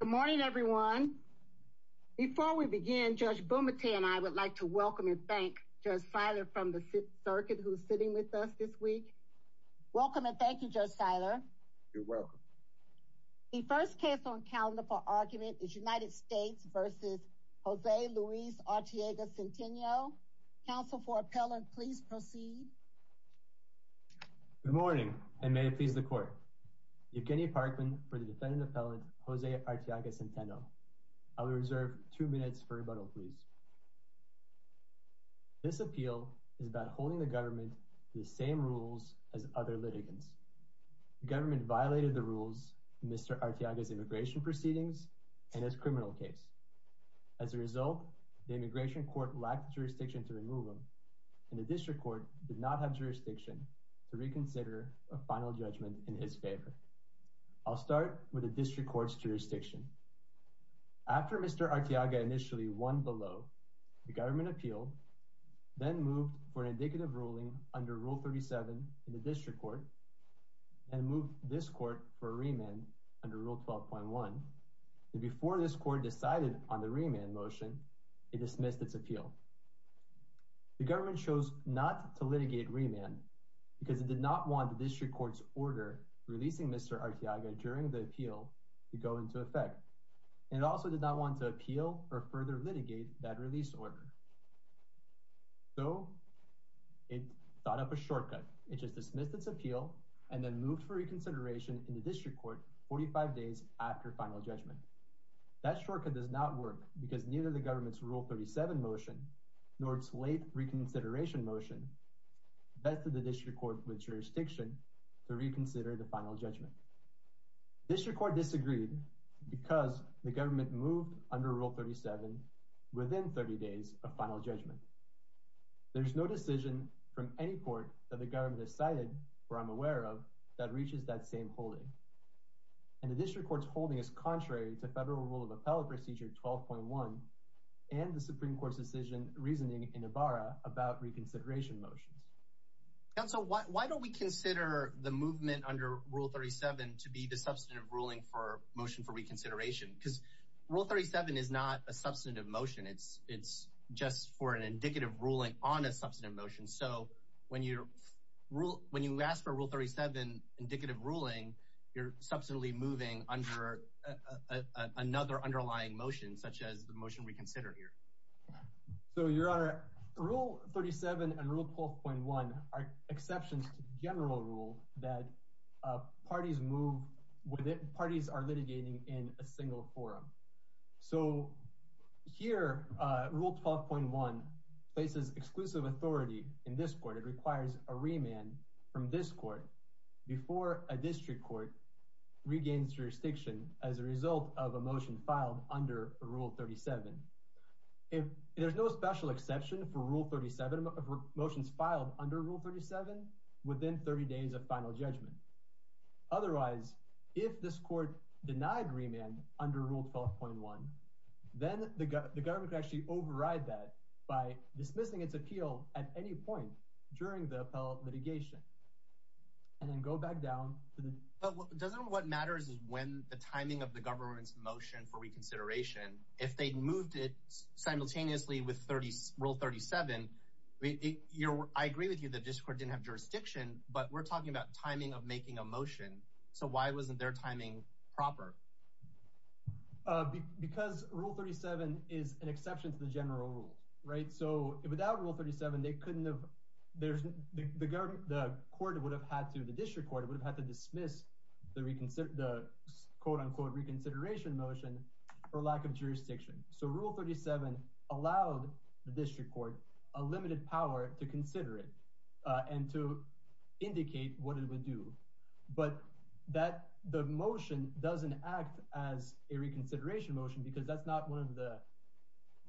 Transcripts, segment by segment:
Good morning everyone. Before we begin, Judge Bumate and I would like to welcome and thank Judge Seiler from the circuit who's sitting with us this week. Welcome and thank you Judge Seiler. You're welcome. The first case on calendar for argument is United States v. Jose Luis Arteaga-Centeno. Counsel for appellant please proceed. Good morning and may it please the I will reserve two minutes for rebuttal please. This appeal is about holding the government to the same rules as other litigants. The government violated the rules of Mr. Arteaga's immigration proceedings and his criminal case. As a result, the immigration court lacked jurisdiction to remove him and the district court did not have jurisdiction to reconsider a final judgment in his favor. I'll start with the district court's jurisdiction. After Mr. Arteaga initially won below, the government appealed then moved for an indicative ruling under rule 37 in the district court and moved this court for a remand under rule 12.1. Before this court decided on the remand motion it dismissed its appeal. The government chose not to litigate remand because it did not want district court's order releasing Mr. Arteaga during the appeal to go into effect and it also did not want to appeal or further litigate that release order. So it thought up a shortcut. It just dismissed its appeal and then moved for reconsideration in the district court 45 days after final judgment. That shortcut does not work because neither the government's rule 37 motion nor its late reconsideration motion vested the district court with jurisdiction to reconsider the final judgment. District court disagreed because the government moved under rule 37 within 30 days of final judgment. There's no decision from any court that the government has cited or I'm aware of that reaches that same holding and the district court's holding is contrary to federal rule of reasoning in Ibarra about reconsideration motions. Council why don't we consider the movement under rule 37 to be the substantive ruling for motion for reconsideration because rule 37 is not a substantive motion it's it's just for an indicative ruling on a substantive motion so when you rule when you ask for rule 37 indicative ruling you're substantively moving under another underlying motion such as the motion we consider here. So your honor rule 37 and rule 12.1 are exceptions to the general rule that parties move with it parties are litigating in a single forum so here rule 12.1 places exclusive authority in this court it requires a remand from this court before a district court regains jurisdiction as a result of a motion filed under rule 37. There's no special exception for rule 37 motions filed under rule 37 within 30 days of final judgment otherwise if this court denied remand under rule 12.1 then the government could actually override that by dismissing its appeal at any point during the appellate litigation and then go back down. But doesn't what matters is when the timing of the government's motion for reconsideration if they moved it simultaneously with 30 rule 37 I agree with you that this court didn't have jurisdiction but we're talking about timing of making a motion so why wasn't their timing proper? Because rule 37 is an exception to the general rule right so without rule 37 they couldn't have there's the government the court would have had to the district court would have had to dismiss the reconsider the quote-unquote reconsideration motion for lack of jurisdiction so rule 37 allowed the district court a limited power to consider it and to indicate what it would do but that the motion doesn't act as a reconsideration motion because that's not one of the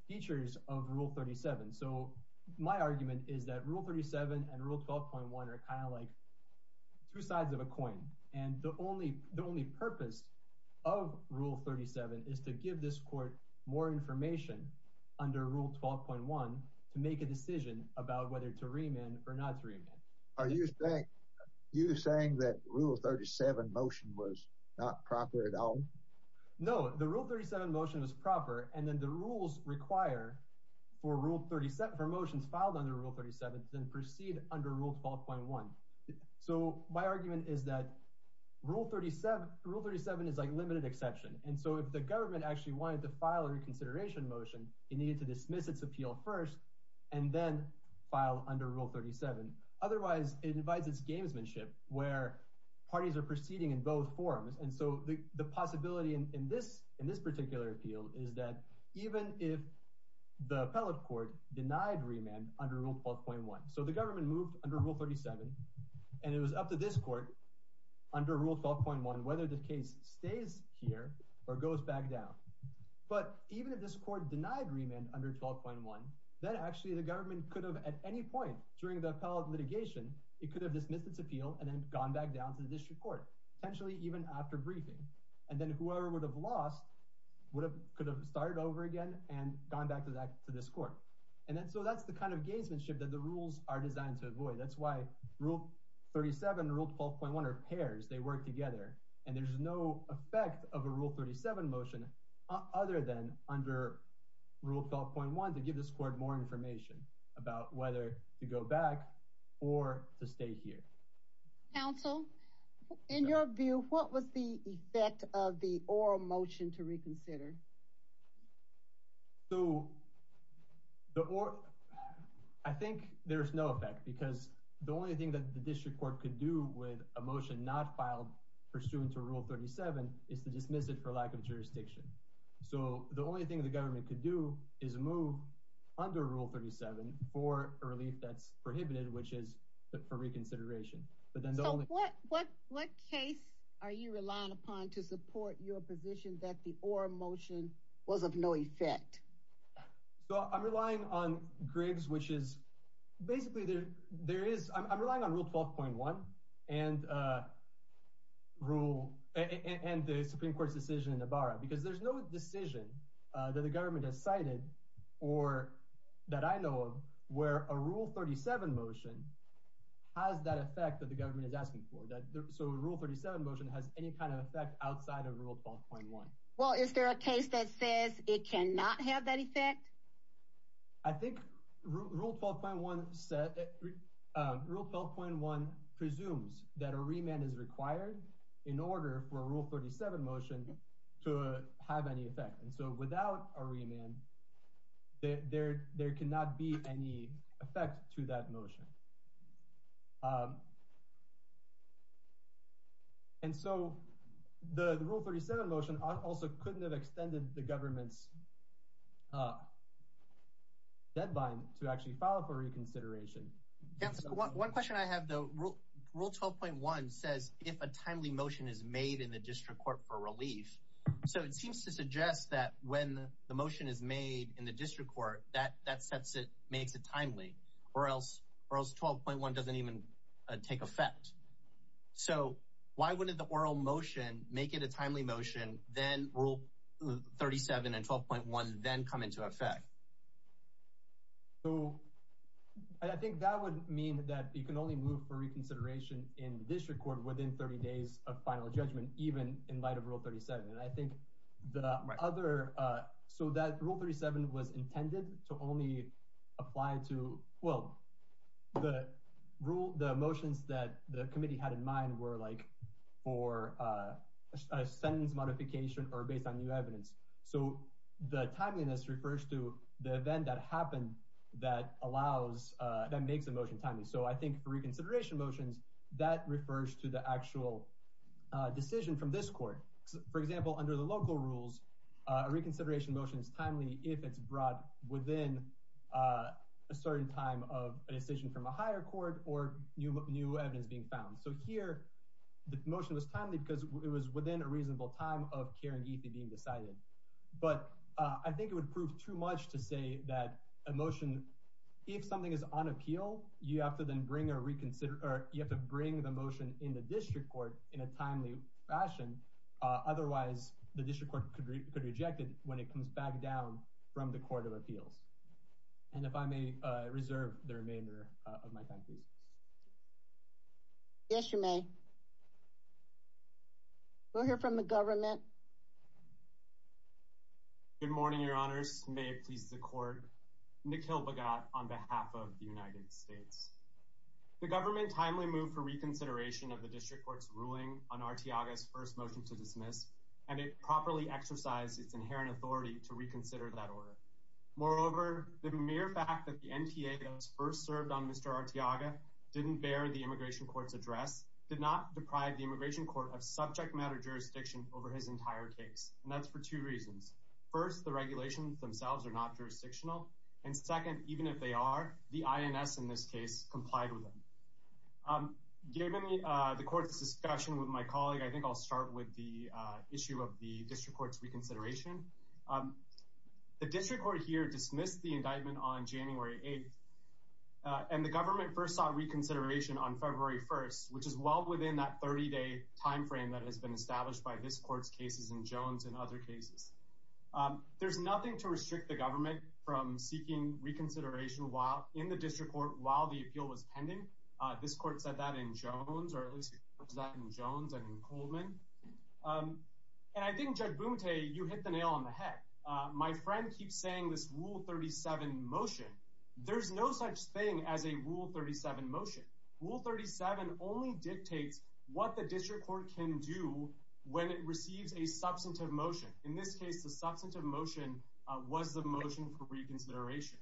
features of rule 37 so my argument is that rule 37 and rule 12.1 are kind of like two sides of a coin and the only the only purpose of rule 37 is to give this court more information under rule 12.1 to make a decision about whether to remand or not to remand. Are you saying you're saying that rule 37 motion was not proper at all? No the rule 37 motion was proper and then the rules require for rule 37 for motions filed under rule 37 then proceed under rule 12.1 so my argument is that rule 37 rule 37 is like limited exception and so if the government actually wanted to file a reconsideration motion it needed to dismiss its appeal first and then file under rule 37 otherwise it invites its gamesmanship where parties are proceeding in both forms and so the the possibility in this in this particular appeal is that even if the appellate court denied remand under rule 12.1 so the government moved under rule 37 and it was up to this court under rule 12.1 whether the case stays here or goes back down but even if this court denied remand under 12.1 then actually the government could have at any point during the appellate litigation it could have dismissed its appeal and then gone back down to the district court potentially even after briefing and then whoever would have lost would have could have started over again and gone back to that to this court and then so that's the kind of gamesmanship that the rules are designed to avoid that's why rule 37 rule 12.1 are pairs they work together and there's no effect of a rule 37 motion other than under rule 12.1 to give this court more information about whether to go back or to stay here council in your view what was the effect of the oral motion to reconsider so the or i think there's no effect because the only thing that district court could do with a motion not filed pursuant to rule 37 is to dismiss it for lack of jurisdiction so the only thing the government could do is move under rule 37 for a relief that's prohibited which is for reconsideration but then the only what what what case are you relying upon to support your position that the oral motion was of no effect so i'm relying on griggs which is basically there there is i'm relying on rule 12.1 and uh rule and the supreme court's decision in the barra because there's no decision uh that the government has cited or that i know of where a rule 37 motion has that effect that the government is asking for that so rule 37 motion has any kind of effect outside of rule 12.1 well is there a case that says it cannot have that effect i think rule 12.1 said rule 12.1 presumes that a remand is required in order for rule 37 motion to have any effect and so without a remand there there cannot be any effect to that motion and so the rule 37 motion also couldn't have extended the government's uh deadline to actually file for reconsideration one question i have though rule rule 12.1 says if a timely motion is made in the district court for relief so it seems to suggest that when the motion is made in the district court that that sets it makes it timely or else or else 12.1 doesn't even take effect so why wouldn't the oral motion make it a timely motion then rule 37 and 12.1 then come into effect so i think that would mean that you can only move for reconsideration in the district court within 30 days of final judgment even in light of rule 37 and i think the other uh so that rule 37 was intended to only apply to well the rule the committee had in mind were like for a sentence modification or based on new evidence so the timeliness refers to the event that happened that allows uh that makes a motion timely so i think for reconsideration motions that refers to the actual decision from this court for example under the local rules a reconsideration motion is timely if it's brought within a certain time of a decision from a higher court or new new evidence being found so here the motion was timely because it was within a reasonable time of caring ethe being decided but i think it would prove too much to say that a motion if something is on appeal you have to then bring a reconsider or you have to bring the motion in the district court in a timely fashion uh otherwise the district court could could reject it when it comes back down from the court of appeals and if i may uh reserve the remainder of my time please yes you may we'll hear from the government good morning your honors may it please the court nikhil bagot on behalf of the united states the government timely move for reconsideration of the district court's ruling on artiagas first motion to dismiss and it properly exercise its inherent authority to reconsider that order moreover the mere fact that the nta that was first served on mr artiaga didn't bear the immigration court's address did not deprive the immigration court of subject matter jurisdiction over his entire case and that's for two reasons first the regulations themselves are not jurisdictional and second even if they are the ins in this case complied with them um given uh the court's discussion with my colleague i think i'll start with the uh issue of the district court's reconsideration um the district court here dismissed the indictment on january 8th and the government first sought reconsideration on february 1st which is well within that 30 day time frame that has been established by this court's cases in jones and other cases there's nothing to restrict the government from seeking reconsideration while in the district court while the appeal was pending uh this court said that in jones or at least that in jones and in coolman um and i think judge boom tay you hit the nail on the head uh my friend keeps saying this rule 37 motion there's no such thing as a rule 37 motion rule 37 only dictates what the district court can do when it receives a substantive motion in this case the substantive motion uh was motion for reconsideration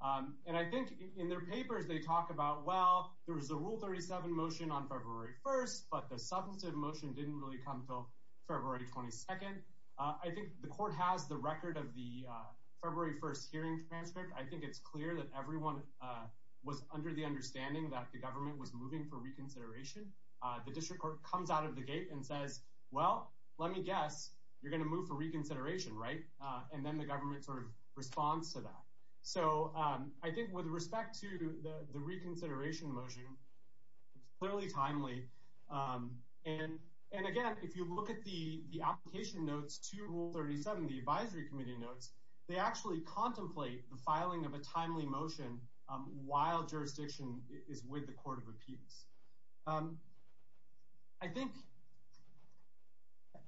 um and i think in their papers they talk about well there was a rule 37 motion on february 1st but the substantive motion didn't really come until february 22nd i think the court has the record of the uh february 1st hearing transcript i think it's clear that everyone uh was under the understanding that the government was moving for reconsideration uh the district court comes out of the gate and says well let me guess you're going to move for reconsideration right uh and then the government sort of responds to that so um i think with respect to the the reconsideration motion it's clearly timely um and and again if you look at the the application notes to rule 37 the advisory committee notes they actually contemplate the filing of a timely motion um while jurisdiction is with the court of appeals um i think okay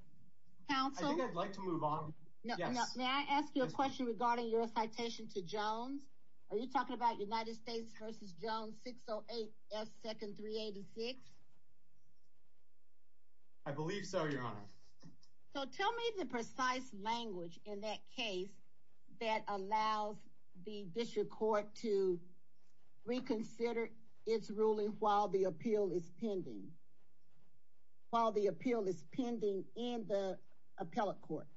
council i think i'd like to move on no no may i ask you a question regarding your citation to jones are you talking about united states versus jones 608 s second 386 i believe so your honor so tell me the precise language in that case that allows the district court to reconsider its ruling while the appeal is pending while the appeal is pending in the appellate court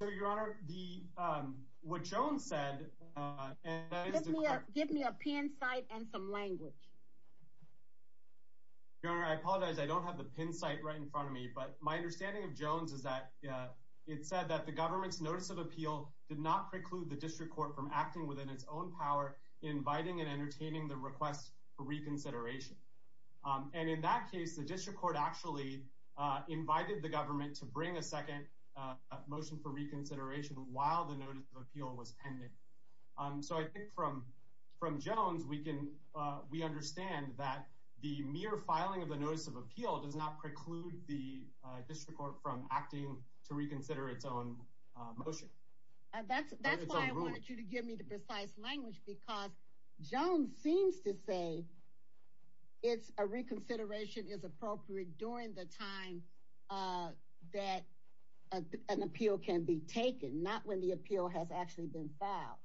so your honor the um what jones said uh and that is give me a pin site and some language your honor i apologize i don't have the pin site right in front of me but my understanding of jones is that it said that the government's notice of appeal did not preclude the district court from acting within its own power inviting and entertaining the request for reconsideration and in that case the district court actually invited the government to bring a second motion for reconsideration while the notice of appeal was pending um so i think from from jones we can we understand that the mere filing of the notice of appeal does not preclude the district court from acting to reconsider its own motion and that's that's why i wanted you to give me the precise language because jones seems to say it's a reconsideration is appropriate during the time uh that an appeal can be taken not when the appeal has actually been filed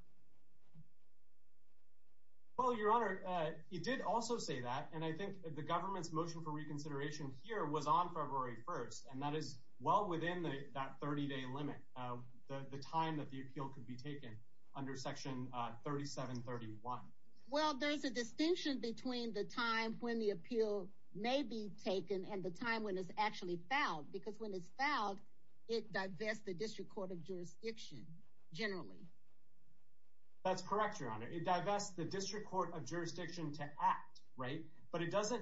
well your honor uh he did also say that and i think the government's motion for reconsideration here was on february 1st and that is well within the that 30-day limit uh the the time that the appeal could be taken under section uh 3731 well there's a distinction between the time when the appeal may be taken and the time when it's actually fouled because when it's fouled it divests the district court of jurisdiction generally that's correct your honor it divests the district court of jurisdiction to act right but it doesn't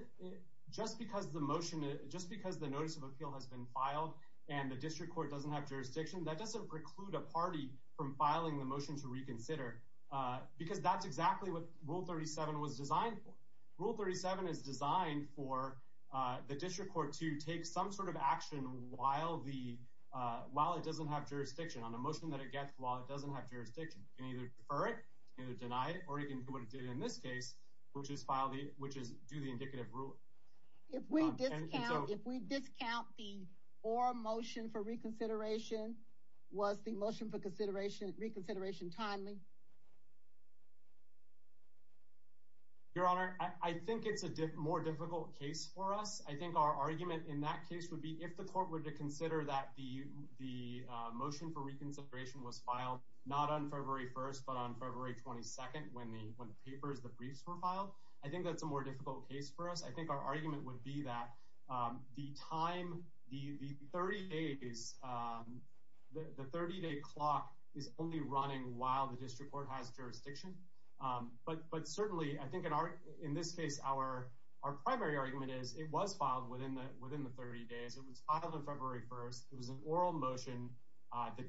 just because the motion just because the notice of appeal has been filed and the district court doesn't have jurisdiction that doesn't preclude a party from filing the motion to reconsider uh because that's exactly what rule 37 was designed for rule 37 is designed for uh the district court to take some sort of action while the uh while it doesn't have jurisdiction on a motion that it gets while it doesn't have what it did in this case which is file the which is do the indicative rule if we discount if we discount the or motion for reconsideration was the motion for consideration reconsideration timely your honor i i think it's a more difficult case for us i think our argument in that case would be if the court were to consider that the the motion for reconsideration was filed not on papers the briefs were filed i think that's a more difficult case for us i think our argument would be that um the time the the 30 days um the the 30-day clock is only running while the district court has jurisdiction um but but certainly i think in our in this case our our primary argument is it was filed within the within the 30 days it was filed on february 1st it was an oral motion uh the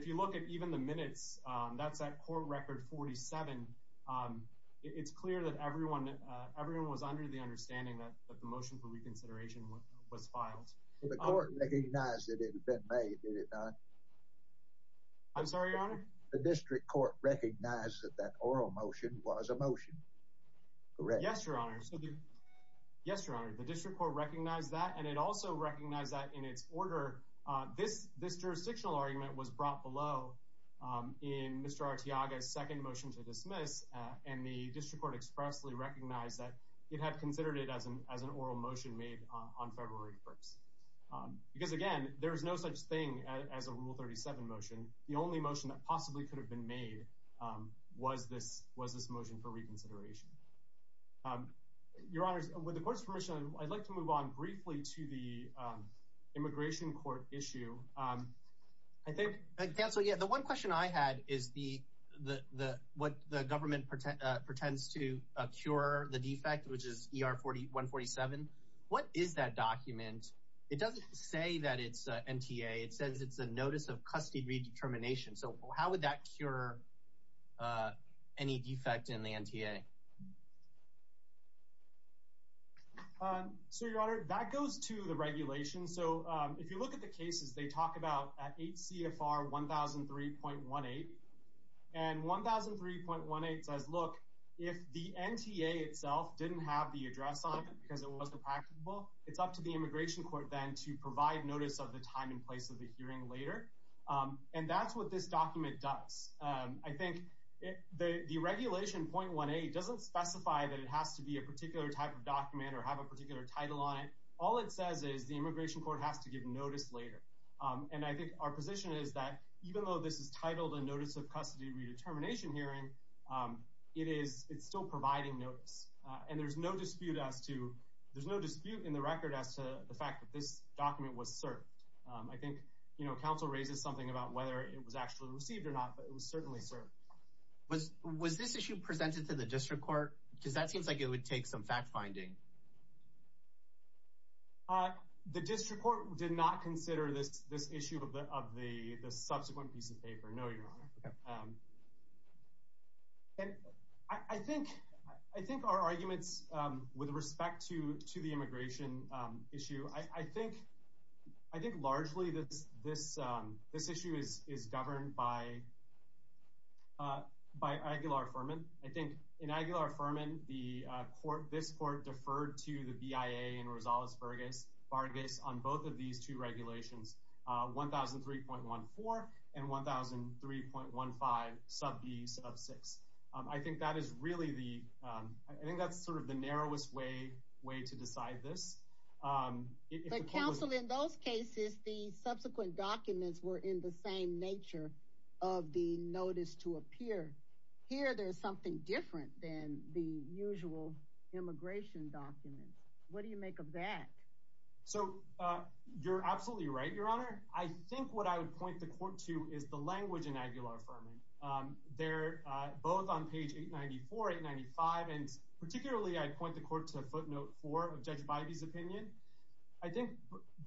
if you look at even the minutes um that's that court record 47 um it's clear that everyone uh everyone was under the understanding that the motion for reconsideration was filed the court recognized that it had been made did it not i'm sorry your honor the district court recognized that that oral motion was a motion correct yes your honor so the yes your honor the district court recognized that and it also recognized that in its order uh this this jurisdictional argument was brought below um in mr artiaga's second motion to dismiss and the district court expressly recognized that it had considered it as an as an oral motion made on february 1st because again there is no such thing as a rule 37 motion the only motion that possibly could have been made um was this was this motion for reconsideration um your honors with the court's permission i'd like to move on briefly to the immigration court issue um i think cancel yeah the one question i had is the the the what the government pretends to cure the defect which is er 40 147 what is that document it doesn't say that it's nta it says it's a notice of custody redetermination so how would that cure uh any defect in the nta um so your honor that goes to the regulation so um if you look at the cases they talk about at hcfr 1003.18 and 1003.18 says look if the nta itself didn't have the address on it because it wasn't practicable it's up to the immigration court then to provide notice of the time and place of the hearing later um and that's what this document does um i think the the regulation 0.18 doesn't specify that it has to be a particular type of document or have a particular title on it all it says is the immigration court has to give notice later um and i think our position is that even though this is titled a notice of custody redetermination hearing um it is it's still providing notice and there's no dispute as to there's no dispute in the record as to the fact this document was served um i think you know council raises something about whether it was actually received or not but it was certainly served was was this issue presented to the district court because that seems like it would take some fact finding uh the district court did not consider this this issue of the of the the subsequent piece of paper no your honor um and i i think i think our arguments um with respect to to the immigration um issue i i think i think largely this this um this issue is is governed by uh by aguilar-ferman i think in aguilar-ferman the uh court this court deferred to the bia in rosales-vargas on both of these two regulations uh 1,003.14 and 1,003.15 sub b sub six i think that is really the um i think that's sort of the narrowest way way to decide this um but counsel in those cases the subsequent documents were in the same nature of the notice to appear here there's something different than the usual immigration documents what do you make of that so uh you're absolutely right your honor i think what i would point the um they're uh both on page 894 895 and particularly i point the court to footnote four of judge biby's opinion i think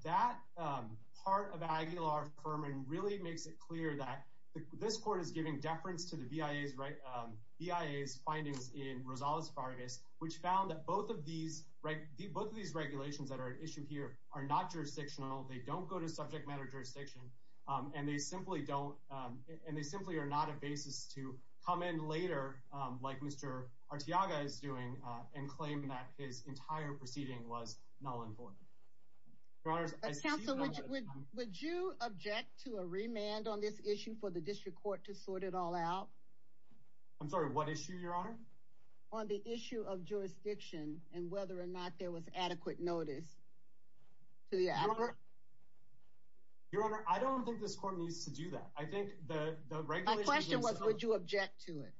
that um part of aguilar-ferman really makes it clear that the this court is giving deference to the bia's right um bia's findings in rosales-vargas which found that both of these right both of these regulations that are at issue here are not jurisdictional they don't go to subject matter jurisdiction um and they simply don't um and they simply are not a basis to come in later um like mr artiaga is doing uh and claim that his entire proceeding was null and void your honors counsel would you object to a remand on this issue for the district court to sort it all out i'm sorry what issue your honor on the issue of jurisdiction and whether or not there was adequate notice to the hour your honor i don't think this court needs to do that i think the the question was would you object to it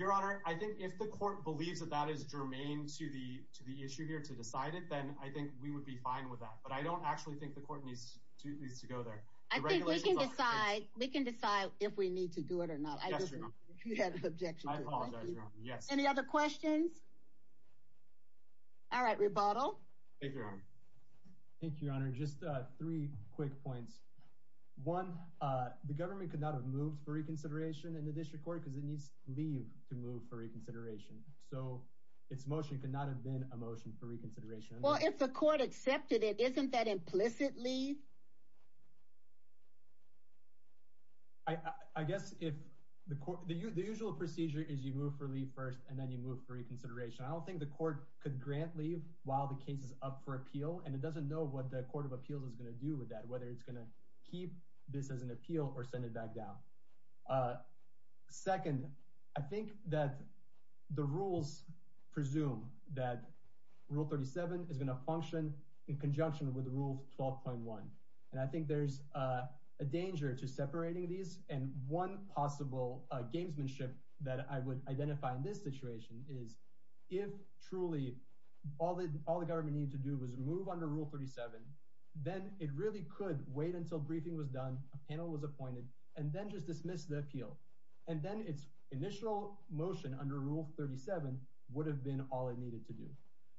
your honor i think if the court believes that that is germane to the to the issue here to decide it then i think we would be fine with that but i don't actually think the court needs to needs to go there i think we can decide we can decide if we need to do it or not objection yes any other questions all right rebuttal thank you thank you your honor just uh three quick points one uh the government could not have moved for reconsideration in the district court because it needs to leave to move for reconsideration so its motion could not have been a motion for reconsideration well if the the usual procedure is you move for leave first and then you move for reconsideration i don't think the court could grant leave while the case is up for appeal and it doesn't know what the court of appeals is going to do with that whether it's going to keep this as an appeal or send it back down uh second i think that the rules presume that rule 37 is going to function in conjunction with rule 12.1 and i think there's uh a danger to separating these and one possible uh gamesmanship that i would identify in this situation is if truly all the all the government needed to do was move under rule 37 then it really could wait until briefing was done a panel was appointed and then just dismiss the appeal and then its initial motion under rule 37 would have been all it needed to do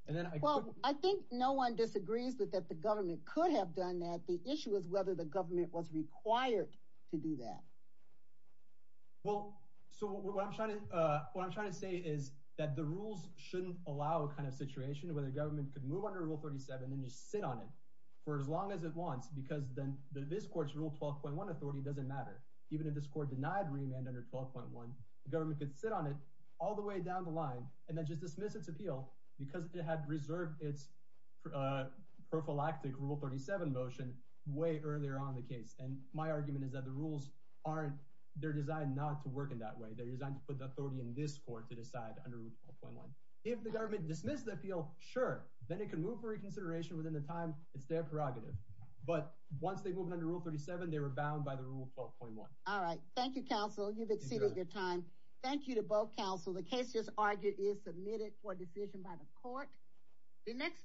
and then well i think no one disagrees with that the government could have done that the issue is whether the government was required to do that well so what i'm trying to uh what i'm trying to say is that the rules shouldn't allow a kind of situation where the government could move under rule 37 and just sit on it for as long as it wants because then this court's rule 12.1 authority doesn't matter even if this court denied remand under 12.1 the government could sit on it all the way down the line and then just dismiss its appeal because it had reserved its uh prophylactic rule 37 motion way earlier on the case and my argument is that the rules aren't they're designed not to work in that way they're designed to put the authority in this court to decide under rule 12.1 if the government dismissed the appeal sure then it can move for reconsideration within the time it's their prerogative but once they moved under rule 37 they were bound by the rule 12.1 all right thank you counsel you've exceeded your time thank you to both counsel the case just argued is submitted for decision by the court the next